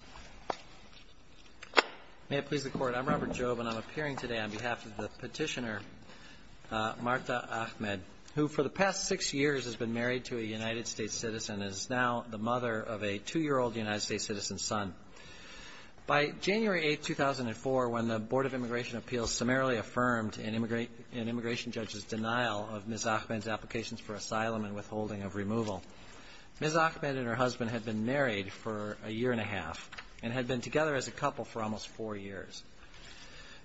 Robert Jobe May I please the Court? I'm Robert Jobe and I'm appearing today on behalf of the petitioner Martha Ahmed, who for the past six years has been married to a United States citizen and is now the mother of a two-year-old United States citizen's son. By January 8, 2004, when the Board of Immigration Appeals summarily affirmed an immigration judge's denial of Ms. Ahmed's applications for asylum and withholding of removal, Ms. Ahmed and her husband had been married for a year and a half and had been together as a couple for almost four years.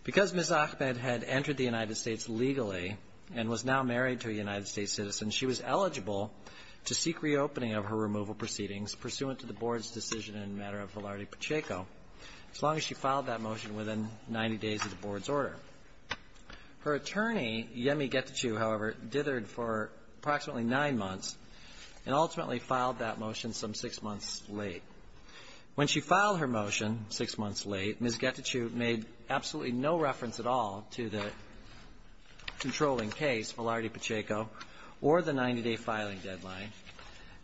Because Ms. Ahmed had entered the United States legally and was now married to a United States citizen, she was eligible to seek reopening of her removal proceedings pursuant to the Board's decision in the matter of Velarde Pacheco, as long as she filed that motion within 90 days of the Board's order. Her attorney, Yemi Getachew, however, dithered for approximately nine months and ultimately filed that motion some six months late. When she filed her motion six months late, Ms. Getachew made absolutely no reference at all to the controlling case, Velarde Pacheco, or the 90-day filing deadline,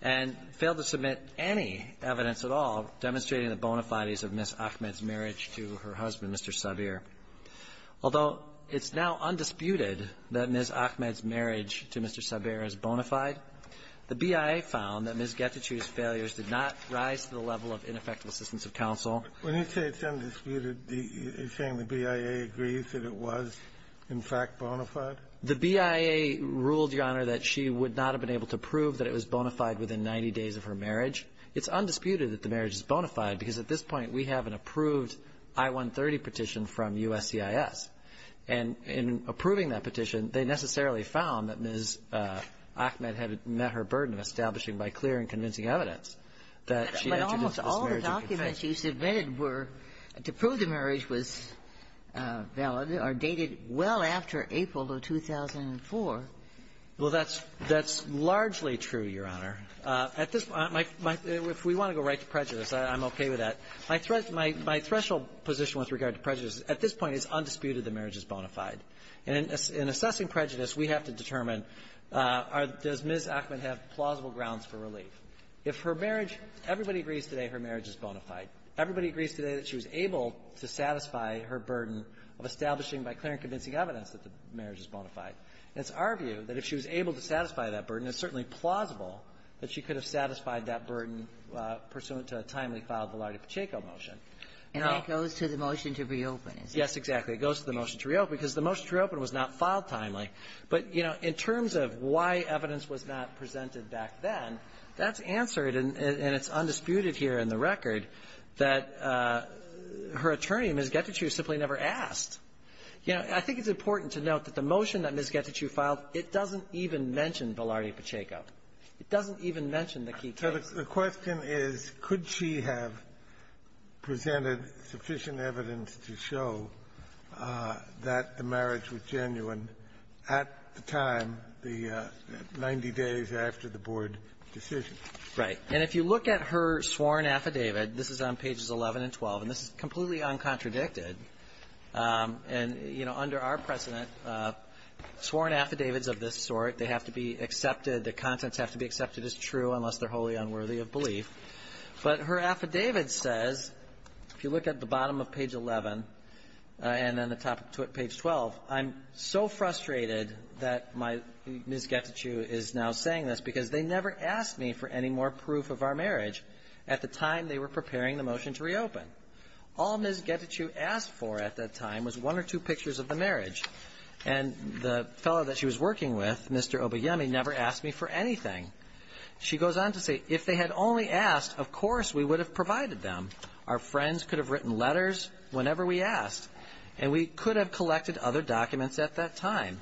and failed to submit any evidence at all demonstrating the bona fides of Ms. Ahmed's marriage to her husband, Mr. Sabir. Although it's now undisputed that Ms. Ahmed's marriage to Mr. Sabir is bona fide, the BIA found that Ms. Getachew's failures did not rise to the level of ineffective assistance of counsel. When you say it's undisputed, you're saying the BIA agrees that it was, in fact, bona fide? The BIA ruled, Your Honor, that she would not have been able to prove that it was bona fide within 90 days of her marriage. It's undisputed that the marriage is bona fide because at this point we have an approved I-130 petition from USCIS. And in approving that petition, they necessarily found that Ms. Ahmed had met her burden of establishing by clear and convincing evidence that she had introduced this marriage in confession. But almost all the documents you submitted were to prove the marriage was valid or dated well after April of 2004. Well, that's largely true, Your Honor. At this point, if we want to go right to prejudice, I'm okay with that. My threshold position with regard to prejudice at this point is undisputed that the marriage is bona fide. And in assessing prejudice, we have to determine does Ms. Ahmed have plausible grounds for relief. If her marriage, everybody agrees today her marriage is bona fide. Everybody agrees today that she was able to satisfy her burden of establishing by clear and convincing evidence that the marriage is bona fide. And it's our view that if she was able to satisfy that burden, it's certainly plausible that she could have satisfied that burden pursuant to a timely file of the Lardy-Pacheco motion. And that goes to the motion to reopen, is it? Yes, exactly. It goes to the motion to reopen because the motion to reopen was not filed timely. But, you know, in terms of why evidence was not presented back then, that's answered, and it's undisputed here in the record, that her attorney, Ms. Gettycher, simply never asked. You know, I think it's important to note that the motion that Ms. Gettycher filed, it doesn't even mention the Lardy-Pacheco. It doesn't even mention the key case. So the question is, could she have presented sufficient evidence to show that the marriage was genuine at the time, the 90 days after the board decision? Right. And if you look at her sworn affidavit, this is on pages 11 and 12, and this is completely uncontradicted. And, you know, under our precedent, sworn affidavits of this sort, they have to be accepted, the contents have to be accepted as true unless they're wholly unworthy of belief. But her affidavit says, if you look at the bottom of page 11 and then the top of page 12, I'm so frustrated that my Ms. Gettycher is now saying this because they never asked me for any more proof of our marriage at the time they were preparing the motion to reopen. All Ms. Gettycher asked for at that time was one or two pictures of the marriage. And the fellow that she was working with, Mr. Obeyemi, never asked me for anything. She goes on to say, if they had only asked, of course we would have provided them. Our friends could have written letters whenever we asked, and we could have collected other documents at that time.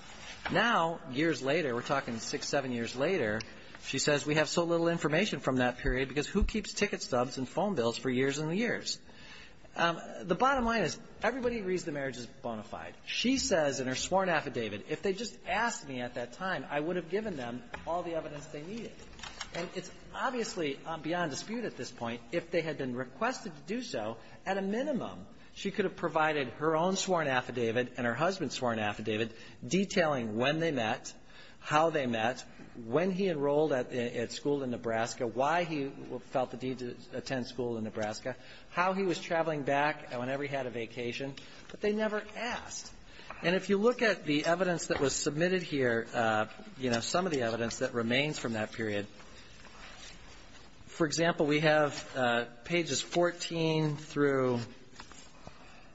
Now, years later, we're talking six, seven years later, she says we have so little information from that period because who keeps ticket stubs and phone bills for years and years? The bottom line is everybody agrees the marriage is bona fide. She says in her sworn affidavit, if they just asked me at that time, I would have given them all the evidence they needed. And it's obviously beyond dispute at this point, if they had been requested to do so, at a minimum, she could have provided her own sworn affidavit and her husband's sworn affidavit detailing when they met, how they met, when he enrolled at school in Nebraska, why he felt the need to attend school in Nebraska, how he was traveling back, whenever he had a vacation. But they never asked. And if you look at the evidence that was submitted here, you know, some of the evidence that remains from that period, for example, we have pages 14 through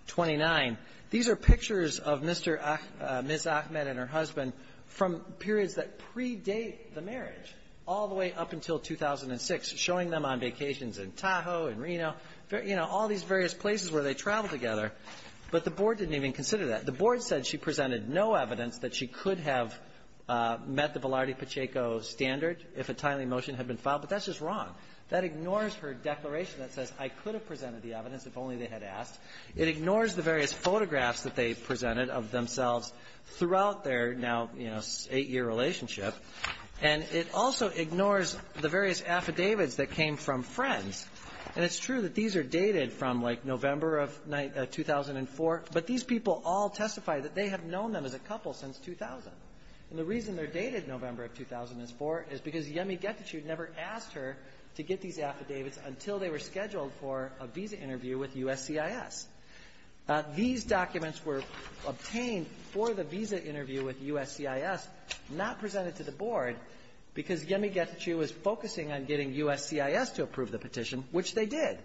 29. These are pictures of Mr. Ah — Ms. Ahmed and her husband from periods that predate the marriage, all the way up until 2006, showing them on vacations in Tahoe, in Reno, you know, all these various places where they traveled together. But the board didn't even consider that. The board said she presented no evidence that she could have met the Velarde-Pacheco standard if a timely motion had been filed. But that's just wrong. That ignores her declaration that says I could have presented the evidence if only they had asked. It ignores the various photographs that they presented of themselves throughout their now, you know, eight-year relationship. And it also ignores the various affidavits that came from friends. And it's true that these are dated from, like, November of 2004, but these people all testify that they have known them as a couple since 2000. And the reason they're dated November of 2004 is because Yemi Getachew never asked her to get these affidavits until they were scheduled for a visa interview with USCIS. These documents were obtained for the visa interview with USCIS, not presented to the board, because Yemi Getachew was focusing on getting USCIS to approve the petition, which they did.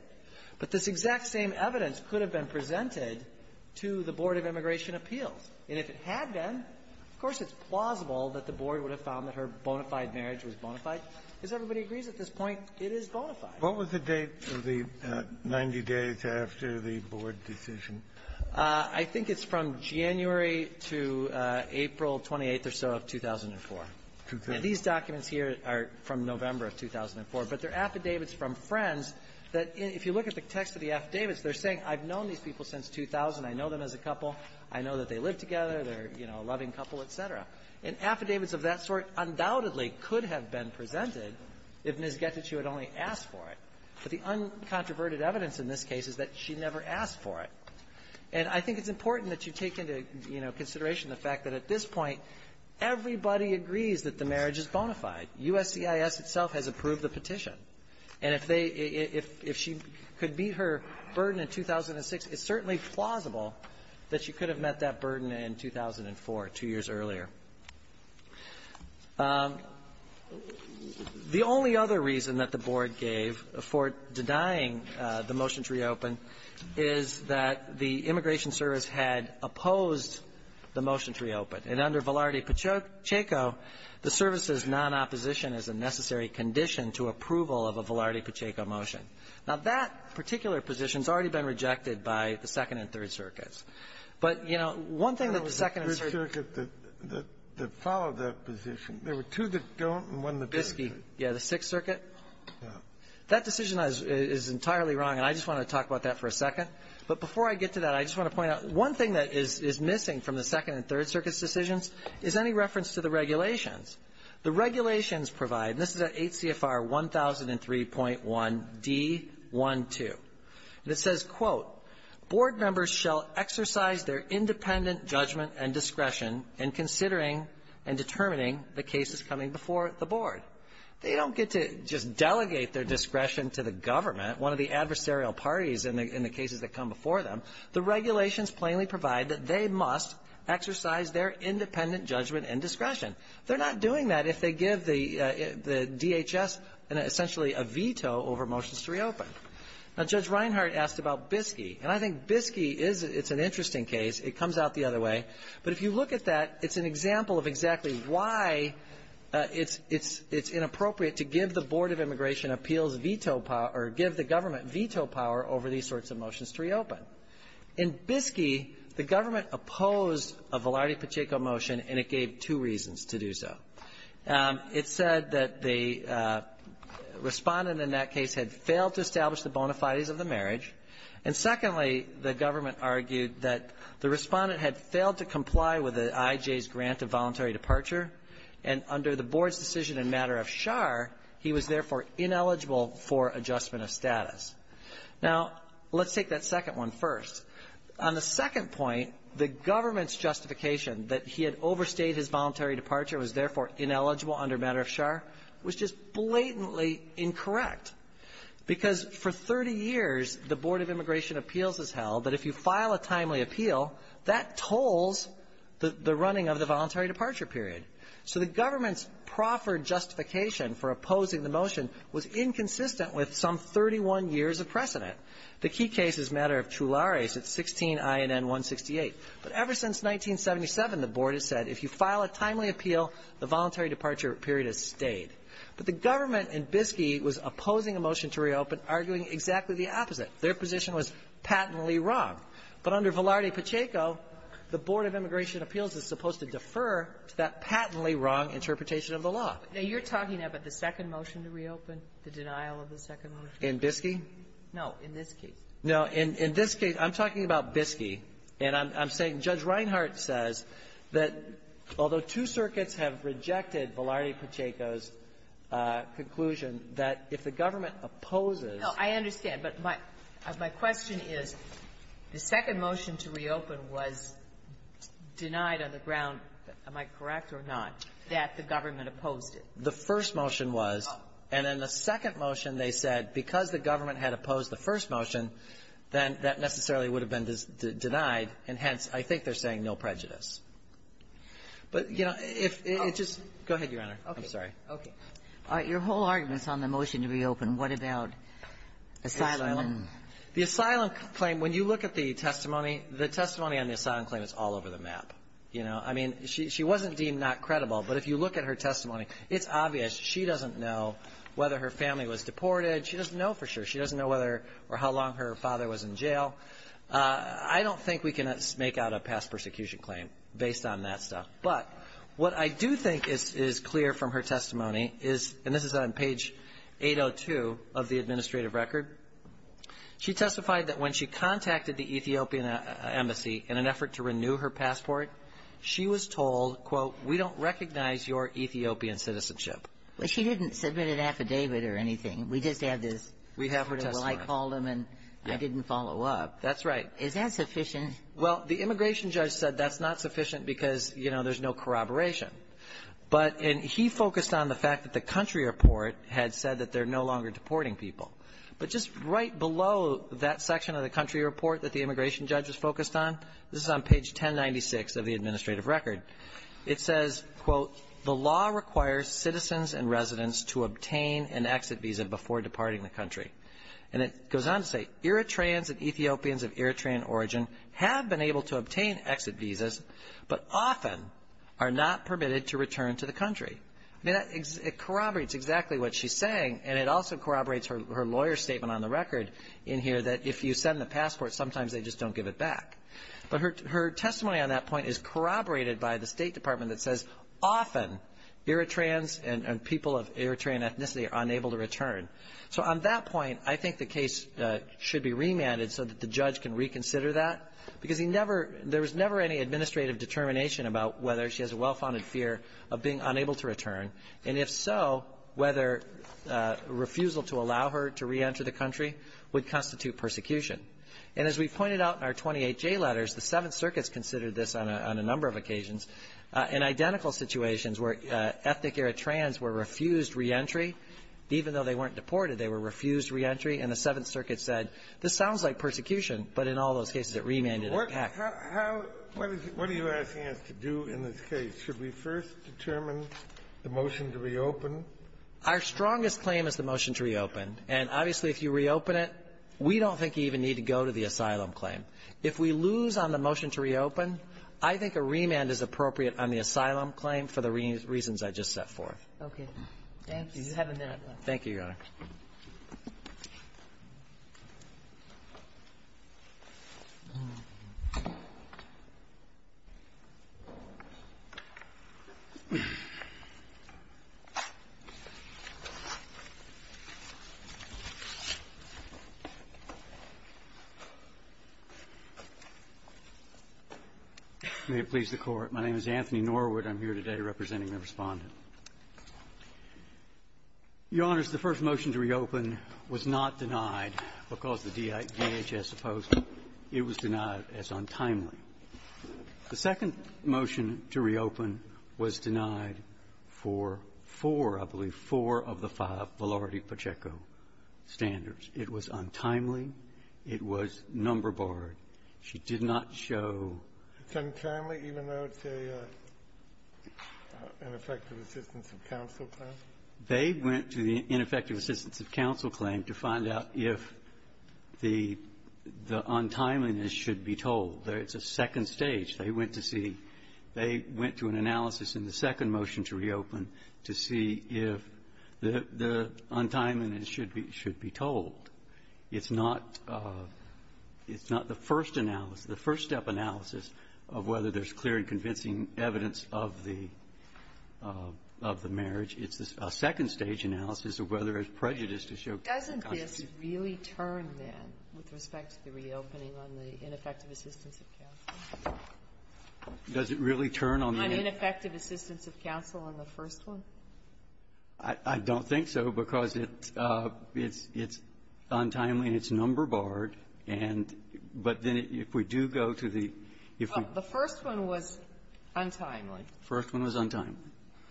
But this exact same evidence could have been presented to the Board of Immigration Appeals. And if it had been, of course, it's plausible that the board would have found that her bona fide marriage was bona fide. As everybody agrees at this point, it is bona fide. Kennedy. What was the date of the 90 days after the board decision? I think it's from January to April 28th or so of 2004. And these documents here are from November of 2004, but they're affidavits from friends that, if you look at the text of the affidavits, they're saying I've known these people since 2000, I know them as a couple, I know that they live together, they're, you know, a loving couple, et cetera. And affidavits of that sort undoubtedly could have been presented if Ms. Getachew had only asked for it. But the uncontroverted evidence in this case is that she never asked for it. And I think it's important that you take into, you know, consideration the fact that at this point, everybody agrees that the marriage is bona fide. USCIS itself has approved the petition. And if they – if she could meet her burden in 2006, it's certainly plausible that she could have met that burden in 2004, two years earlier. The only other reason that the board gave for denying the motion to reopen is that the Immigration Service had opposed the motion to reopen. And under Velarde-Pacheco, the service's non-opposition is a necessary condition to approval of a Velarde-Pacheco motion. Now, that particular position has already been rejected by the Second and Third Circuits. But, you know, one thing that the Second and Third — Kennedy. There was a third circuit that followed that position. There were two that don't and one that does. Biscayne. Yeah. The Sixth Circuit? Kennedy. Yeah. That decision is entirely wrong, and I just want to talk about that for a second. But before I get to that, I just want to point out, one thing that is missing from the Second and Third Circuit's decisions is any reference to the regulations. The regulations provide, and this is at HCFR 1003.1d12, and it says, quote, Board members shall exercise their independent judgment and discretion in considering and determining the cases coming before the board. They don't get to just delegate their discretion to the government, one of the adversarial parties in the cases that come before them. The regulations plainly provide that they must exercise their independent judgment and discretion. They're not doing that if they give the DHS essentially a veto over motions to reopen. Now, Judge Reinhart asked about Biscayne. And I think Biscayne is an interesting case. It comes out the other way. But if you look at that, it's an example of exactly why it's inappropriate to give the Board of Immigration appeals veto power or give the government veto power over these sorts of motions to reopen. In Biscayne, the government opposed a Velarde-Pacheco motion, and it gave two reasons to do so. It said that the Respondent in that case had failed to establish the bona fides of the marriage. And secondly, the government argued that the Respondent had failed to comply with the IJ's grant of voluntary departure. And under the Board's decision in matter of char, he was therefore ineligible for adjustment of status. Now, let's take that second one first. On the second point, the government's justification that he had overstayed his voluntary departure, was therefore ineligible under matter of char, was just blatantly incorrect. Because for 30 years, the Board of Immigration appeals has held that if you file a timely appeal, that tolls the running of the voluntary departure period. So the government's proffered justification for opposing the motion was inconsistent with some 31 years of precedent. The key case is matter of tulares at 16INN168. But ever since 1977, the Board has said if you file a timely appeal, the voluntary departure period has stayed. But the government in Biscayne was opposing a motion to reopen, arguing exactly the opposite. Their position was patently wrong. But under Velarde-Pacheco, the Board of Immigration Appeals is supposed to defer to that patently wrong interpretation of the law. Now, you're talking about the second motion to reopen, the denial of the second motion? In Biscayne? No. In this case. In this case, I'm talking about Biscayne. And I'm saying Judge Reinhart says that although two circuits have rejected Velarde-Pacheco's correct or not, that the government opposed it. The first motion was. And in the second motion, they said because the government had opposed the first motion, then that necessarily would have been denied. And hence, I think they're saying no prejudice. But, you know, if it just go ahead, Your Honor. I'm sorry. Okay. Your whole argument's on the motion to reopen. What about asylum? The asylum claim, when you look at the testimony, the testimony on the asylum claim is all over the map. You know, I mean, she wasn't deemed not credible. But if you look at her testimony, it's obvious she doesn't know whether her family was deported. She doesn't know for sure. She doesn't know whether or how long her father was in jail. I don't think we can make out a past persecution claim based on that stuff. But what I do think is clear from her testimony is, and this is on page 802 of the administrative record. She testified that when she contacted the Ethiopian embassy in an effort to renew her passport, she was told, quote, we don't recognize your Ethiopian citizenship. Well, she didn't submit an affidavit or anything. We just have this. We have her testimony. Well, I called them, and I didn't follow up. That's right. Is that sufficient? Well, the immigration judge said that's not sufficient because, you know, there's no corroboration. But he focused on the fact that the country report had said that they're no longer deporting people. But just right below that section of the country report that the immigration judge was focused on, this is on page 1096 of the administrative record. It says, quote, the law requires citizens and residents to obtain an exit visa before departing the country. And it goes on to say Eritreans and Ethiopians of Eritrean origin have been able to obtain exit visas, but often are not permitted to return to the country. I mean, it corroborates exactly what she's saying, and it also corroborates her lawyer's statement on the record in here that if you send the passport, sometimes they just don't give it back. But her testimony on that point is corroborated by the State Department that says often Eritreans and people of Eritrean ethnicity are unable to return. So on that point, I think the case should be remanded so that the judge can reconsider that because he never — there was never any administrative determination about whether she has a well-founded fear of being unable to return, and if so, whether refusal to allow her to reenter the country would constitute persecution. And as we've pointed out in our 28J letters, the Seventh Circuit's considered this on a number of occasions in identical situations where ethnic Eritreans were refused reentry, even though they weren't deported, they were refused reentry, and the Seventh Circuit said, this sounds like persecution, but in all those cases, it remanded a package. Kennedy. What do you ask us to do in this case? Should we first determine the motion to reopen? Our strongest claim is the motion to reopen. And obviously, if you reopen it, we don't think you even need to go to the asylum claim. If we lose on the motion to reopen, I think a remand is appropriate on the asylum claim for the reasons I just set forth. Okay. Thank you. Thank you, Your Honor. May it please the Court. My name is Anthony Norwood. I'm here today representing the Respondent. Your Honors, the first motion to reopen was not denied because the DHS opposed it. It was denied as untimely. The second motion to reopen was denied for four, I believe, four of the five, Valerity Pacheco standards. It was untimely. It was number-borrowed. She did not show ---- It's untimely, even though it's a ineffective assistance of counsel claim? They went to the ineffective assistance of counsel claim to find out if the untimeliness should be told. It's a second stage. They went to see they went to an analysis in the second motion to reopen to see if the untimeliness should be told. It's not the first analysis, the first-step analysis of whether there's clear and convincing evidence of the marriage. It's a second-stage analysis of whether there's prejudice to show ---- Doesn't this really turn, then, with respect to the reopening on the ineffective assistance of counsel? Does it really turn on the ---- On ineffective assistance of counsel on the first one? I don't think so, because it's untimely and it's number-borrowed. And but then if we do go to the ---- Well, the first one was untimely. The first one was untimely.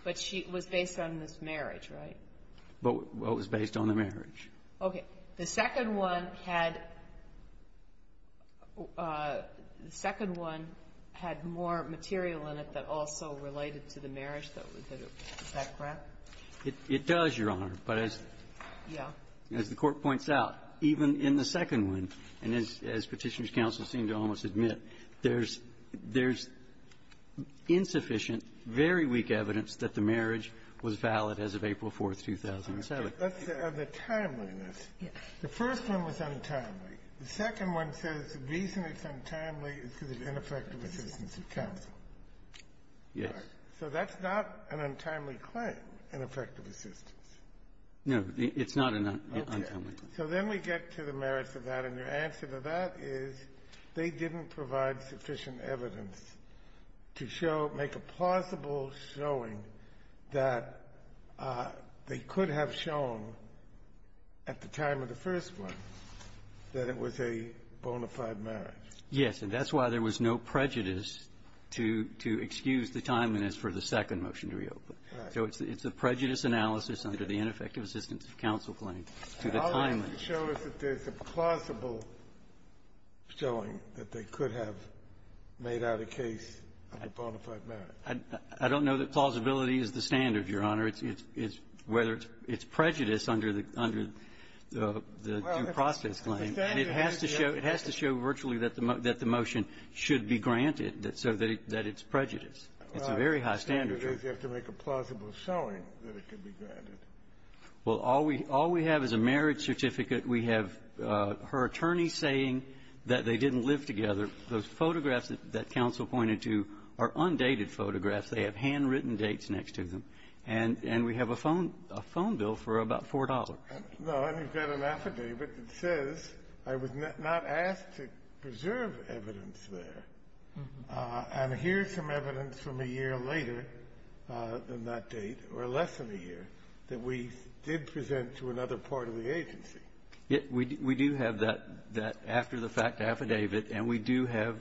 But she was based on this marriage, right? Well, it was based on the marriage. Okay. The second one had ---- the second one had more material in it that also related to the marriage, though. Is that correct? It does, Your Honor. But as the Court points out, even in the second one, and as Petitioner's counsel seemed to almost admit, there's insufficient, very weak evidence that the marriage was valid as of April 4th, 2007. Let's say on the timeliness, the first one was untimely. The second one says the reason it's untimely is because of ineffective assistance of counsel. Yes. So that's not an untimely claim, ineffective assistance. No, it's not an untimely claim. Okay. So then we get to the merits of that, and your answer to that is they didn't provide sufficient evidence to show ---- make a plausible showing that they could have shown at the time of the first one that it was a bona fide marriage. Yes. And that's why there was no prejudice to excuse the timeliness for the second motion to reopen. So it's a prejudice analysis under the ineffective assistance of counsel claim to the timeliness. And all it can show is that there's a plausible showing that they could have made out a case of a bona fide marriage. I don't know that plausibility is the standard, Your Honor. It's whether it's prejudice under the due process claim. And it has to show virtually that the motion should be granted so that it's prejudice. It's a very high standard. Well, the standard is you have to make a plausible showing that it could be granted. Well, all we have is a marriage certificate. We have her attorney saying that they didn't live together. Those photographs that counsel pointed to are undated photographs. They have handwritten dates next to them. And we have a phone bill for about $4. No, and you've got an affidavit that says I was not asked to preserve evidence there. And here's some evidence from a year later than that date, or less than a year, that we did present to another part of the agency. We do have that after the fact affidavit, and we do have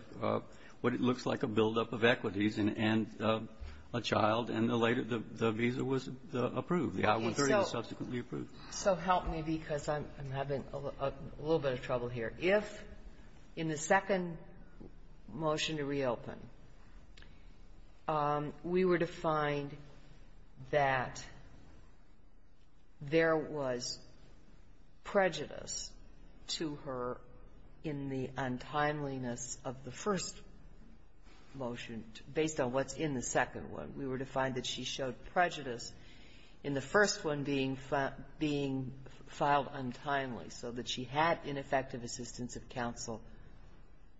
what it looks like a buildup of equities and a child, and the later the visa was approved. The I-130 was subsequently approved. So help me, because I'm having a little bit of trouble here. If in the second motion to reopen, we were to find that there was prejudice to her in the untimeliness of the first motion, based on what's in the second one, we were to find that she showed prejudice in the first one being filed untimely, so that she had ineffective assistance of counsel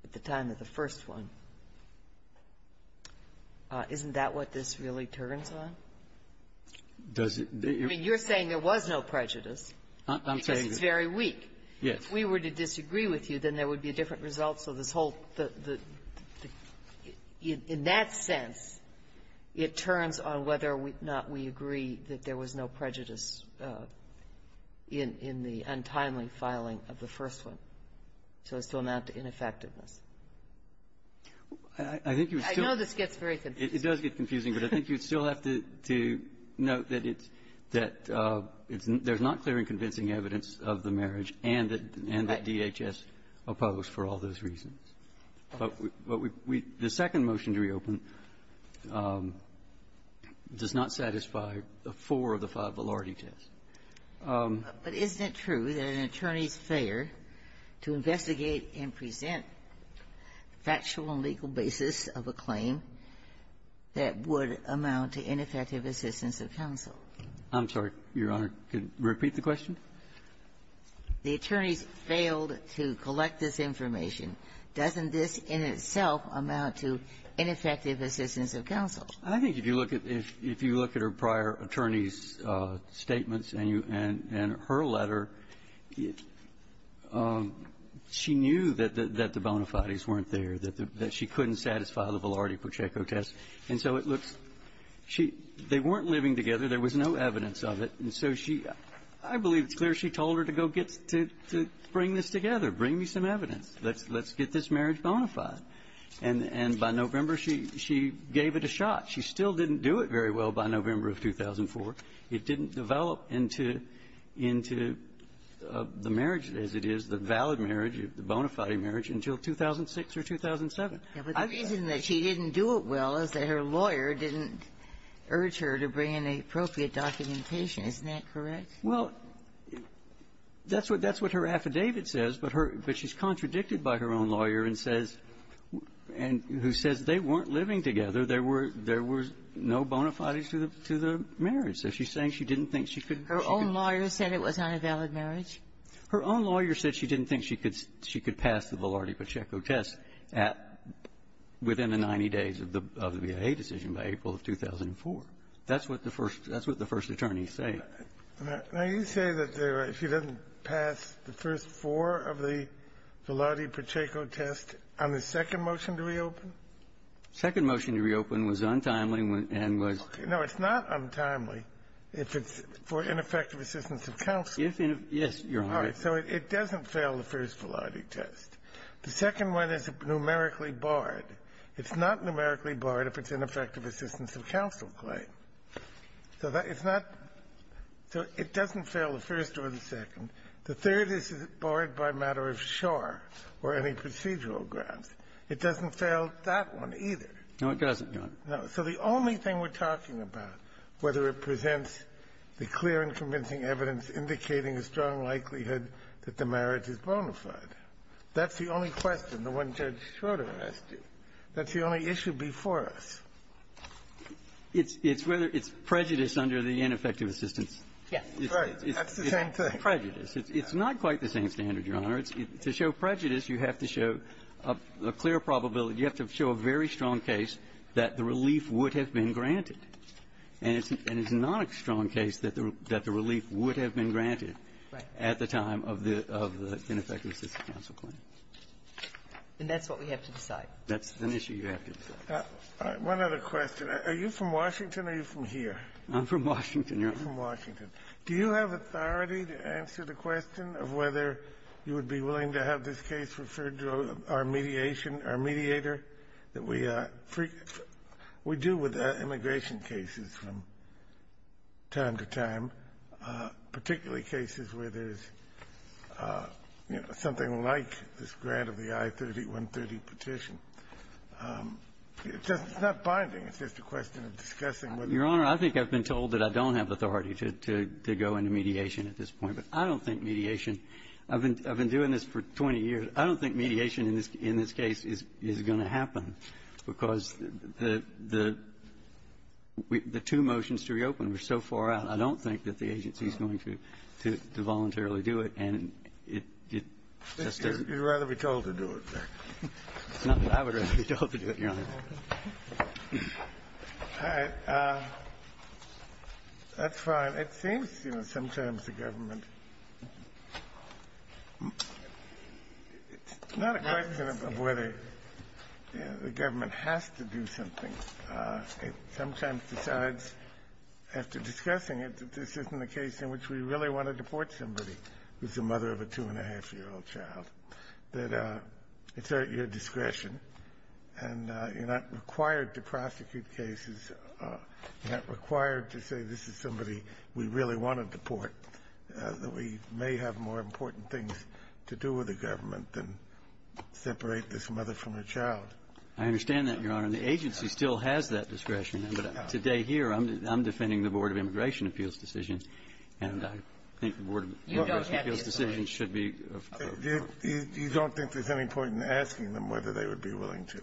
at the time of the first one. Isn't that what this really turns on? I mean, you're saying there was no prejudice because it's very weak. Yes. If we were to disagree with you, then there would be different results of this whole thing. But the – in that sense, it turns on whether or not we agree that there was no prejudice in the untimely filing of the first one, so as to amount to ineffectiveness. I think you still need to note that it's – that there's not clear and convincing evidence of the marriage and that DHS opposed for all those reasons. But we – the second motion to reopen does not satisfy four of the five validity tests. But isn't it true that an attorney's failure to investigate and present factual and legal basis of a claim that would amount to ineffective assistance of counsel? I'm sorry, Your Honor. Could you repeat the question? The attorneys failed to collect this information. Doesn't this in itself amount to ineffective assistance of counsel? I think if you look at – if you look at her prior attorney's statements and you – and her letter, she knew that the bona fides weren't there, that she couldn't satisfy the Velarde-Pacheco test. And so it looks – she – they weren't living together. There was no evidence of it. And so she – I believe it's clear she told her to go get – to bring this together. Bring me some evidence. Let's get this marriage bona fide. And by November, she gave it a shot. She still didn't do it very well by November of 2004. It didn't develop into the marriage as it is, the valid marriage, the bona fide marriage, until 2006 or 2007. The reason that she didn't do it well is that her lawyer didn't urge her to bring in the appropriate documentation. Isn't that correct? Well, that's what – that's what her affidavit says. But her – but she's contradicted by her own lawyer and says – and who says they weren't living together. There were – there were no bona fides to the – to the marriage. So she's saying she didn't think she could – she could – Her own lawyer said it was not a valid marriage? Her own lawyer said she didn't think she could – she could pass the Velarde-Pacheco test at – within the 90 days of the BIA decision, by April of 2004. That's what the first – that's what the first attorneys say. Now, you say that she didn't pass the first four of the Velarde-Pacheco test on the second motion to reopen? The second motion to reopen was untimely and was – No, it's not untimely if it's for ineffective assistance of counsel. If – yes, Your Honor. All right. So it doesn't fail the first Velarde test. The second one is numerically barred. It's not numerically barred if it's ineffective assistance of counsel claim. So that – it's not – so it doesn't fail the first or the second. The third is barred by matter of shore or any procedural grounds. It doesn't fail that one either. No, it doesn't, Your Honor. No. So the only thing we're talking about, whether it presents the clear and convincing evidence indicating a strong likelihood that the marriage is bona fide, that's the only question, the one Judge Schroeder asked you. That's the only issue before us. It's whether – it's prejudice under the ineffective assistance. Yes. Right. That's the same thing. It's prejudice. It's not quite the same standard, Your Honor. To show prejudice, you have to show a clear probability. You have to show a very strong case that the relief would have been granted. And it's not a strong case that the relief would have been granted at the time of the ineffective assistance counsel claim. And that's what we have to decide. That's an issue you have to decide. One other question. Are you from Washington or are you from here? I'm from Washington, Your Honor. You're from Washington. Do you have authority to answer the question of whether you would be willing to have this case referred to our mediation, our mediator, that we do with immigration cases from time to time, particularly cases where there's, you know, something like this grant of the I-30, 130 petition? It's not binding. It's just a question of discussing whether you would be willing to have this petition. Your Honor, I think I've been told that I don't have authority to go into mediation at this point. But I don't think mediation – I've been doing this for 20 years. But I don't think mediation in this case is going to happen, because the two motions to reopen were so far out, I don't think that the agency is going to voluntarily do it. And it just doesn't – You'd rather be told to do it, then. It's not that I would rather be told to do it, Your Honor. All right. That's fine. It seems, you know, sometimes the government – it's not a question of whether the government has to do something. It sometimes decides, after discussing it, that this isn't a case in which we really want to deport somebody who's the mother of a two-and-a-half-year-old child, that it's at your discretion, and you're not required to prosecute cases, you're not required to say this is somebody we really want to deport, that we may have more important things to do with the government than separate this mother from her child. I understand that, Your Honor. And the agency still has that discretion. But today here, I'm defending the Board of Immigration Appeals decisions, and I think the Board of Immigration Appeals decisions should be – You don't think there's any point in asking them whether they would be willing to?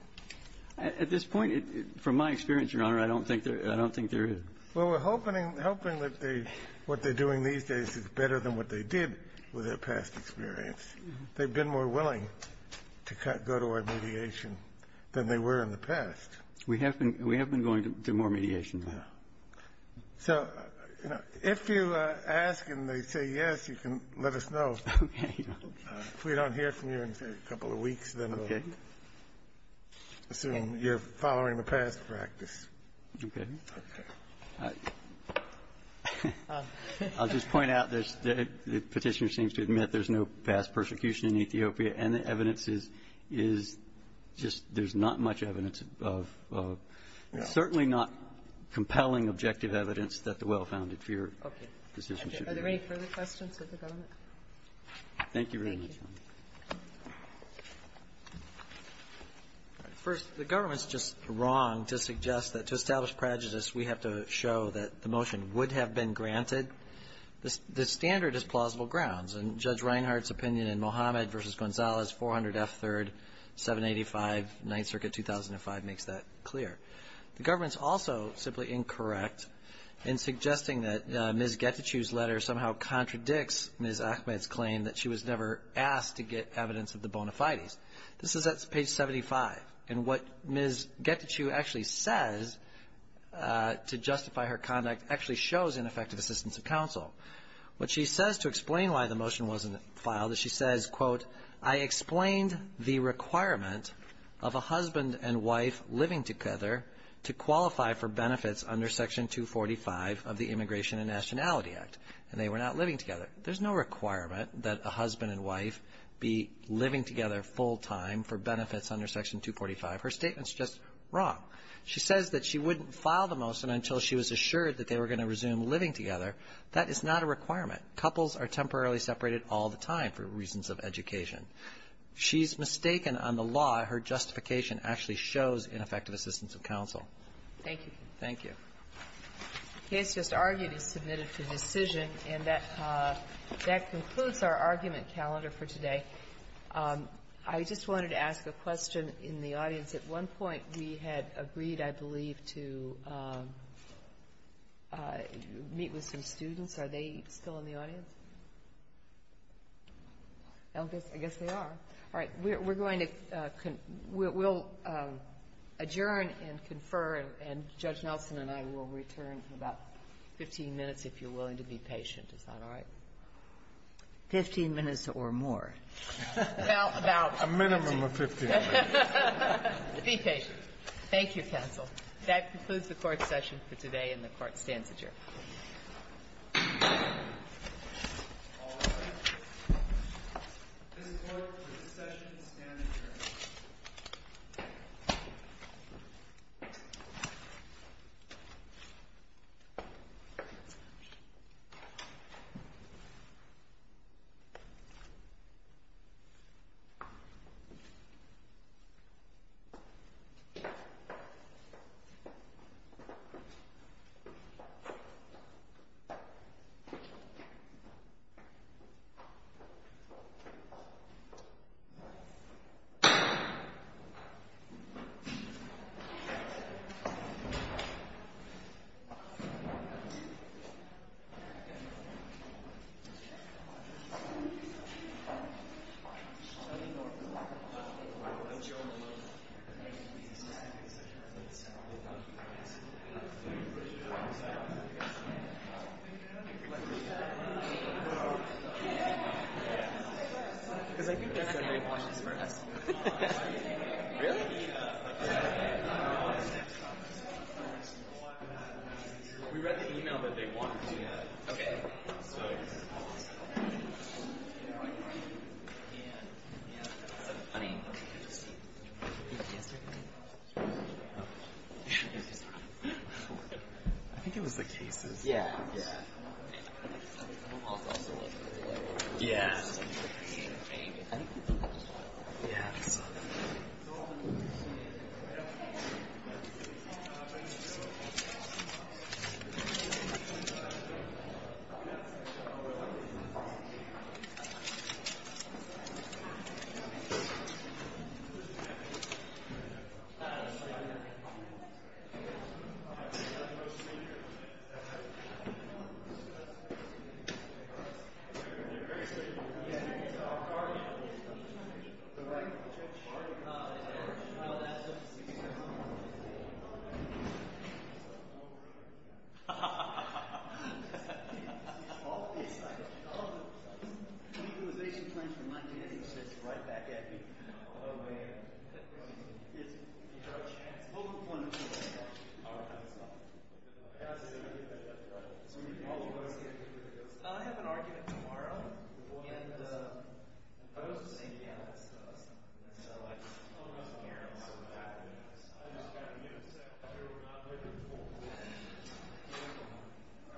At this point, from my experience, Your Honor, I don't think there – I don't think there is. Well, we're hoping that they – what they're doing these days is better than what they did with their past experience. They've been more willing to go to our mediation than they were in the past. We have been going to more mediation, Your Honor. So if you ask and they say yes, you can let us know. Okay. If we don't hear from you in, say, a couple of weeks, then we'll assume you're following a past practice. Okay. I'll just point out there's – the Petitioner seems to admit there's no past persecution in Ethiopia, and the evidence is – is just there's not much evidence of – certainly not compelling objective evidence that the well-founded fear decisions should be made. Okay. Are there any further questions of the government? Thank you very much, Your Honor. Thank you. First, the government's just wrong to suggest that to establish prejudice, we have to show that the motion would have been granted. The standard is plausible grounds, and Judge Reinhart's opinion in Mohammed v. Gonzalez, 400 F. 3rd, 785, 9th Circuit, 2005, makes that clear. The government's also simply incorrect in suggesting that Ms. Getachew's letter somehow contradicts Ms. Ahmed's claim that she was never asked to get evidence of the bona fides. This is at page 75, and what Ms. Getachew actually says to justify her conduct actually shows ineffective assistance of counsel. What she says to explain why the motion wasn't filed is she says, quote, I explained the requirement of a husband and wife living together to qualify for benefits under Section 245 of the Immigration and Nationality Act, and they were not living together. There's no requirement that a husband and wife be living together full-time for benefits under Section 245. Her statement's just wrong. She says that she wouldn't file the motion until she was assured that they were going to resume living together. That is not a requirement. Couples are temporarily separated all the time for reasons of education. She's mistaken on the law. Her justification actually shows ineffective assistance of counsel. Thank you. Thank you. The case just argued is submitted for decision, and that concludes our argument calendar for today. I just wanted to ask a question in the audience. At one point, we had agreed, I believe, to meet with some students. Are they still in the audience? I guess they are. All right. We're going to confer. We'll adjourn and confer, and Judge Nelson and I will return in about 15 minutes if you're willing to be patient. Is that all right? Fifteen minutes or more. Well, about 15. A minimum of 15 minutes. Be patient. Thank you, counsel. That concludes the court session for today, and the Court stands adjourned. All right. This court, for this session, stands adjourned. Yeah. Yeah. Yeah. Yeah. Yeah. Ha ha ha ha ha ha. All of these items. The legalization claims from 1998 are right back at me. Oh, man. It's a vocal point of view. All right. That's fine. I have an argument tomorrow, and I was just saying, yeah, let's do it. So I just don't want to hear about it. I just got to give it a second. I'm not looking forward to it.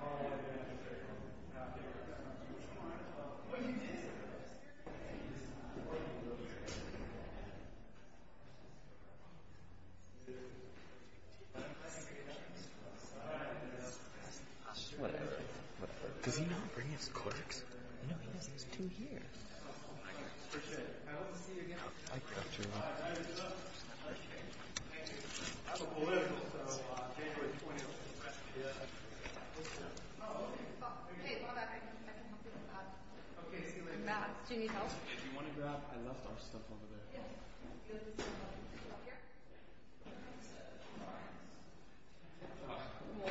Oh, yeah, sure. I'll figure it out. Do what you want to do. Well, you did. You did. Well, you did. You did. You did. All right. Whatever. Whatever. Does he not bring his clerks? No, he doesn't. There's two here. Oh, my God. I appreciate it. I hope to see you again. I got you. All right. Time is up. Thank you. Thank you. I have a political. So January 20th. Yeah. Hey, Lola, I can help you with that. OK. See you later. Matt, do you need help? If you want to grab, I left our stuff over there. Yeah. Good. Up here? What is that? What? What? What? We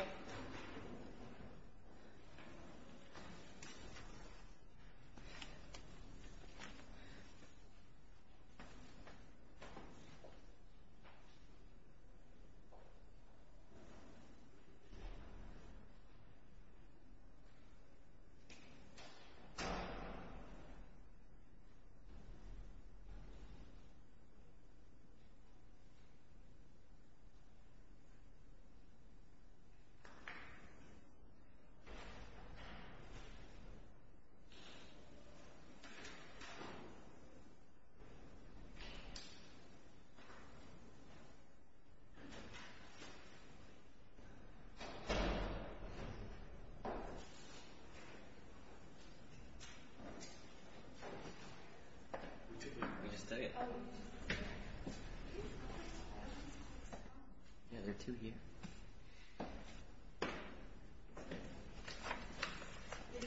took it. We just took it. Oh. Yeah, there are two here.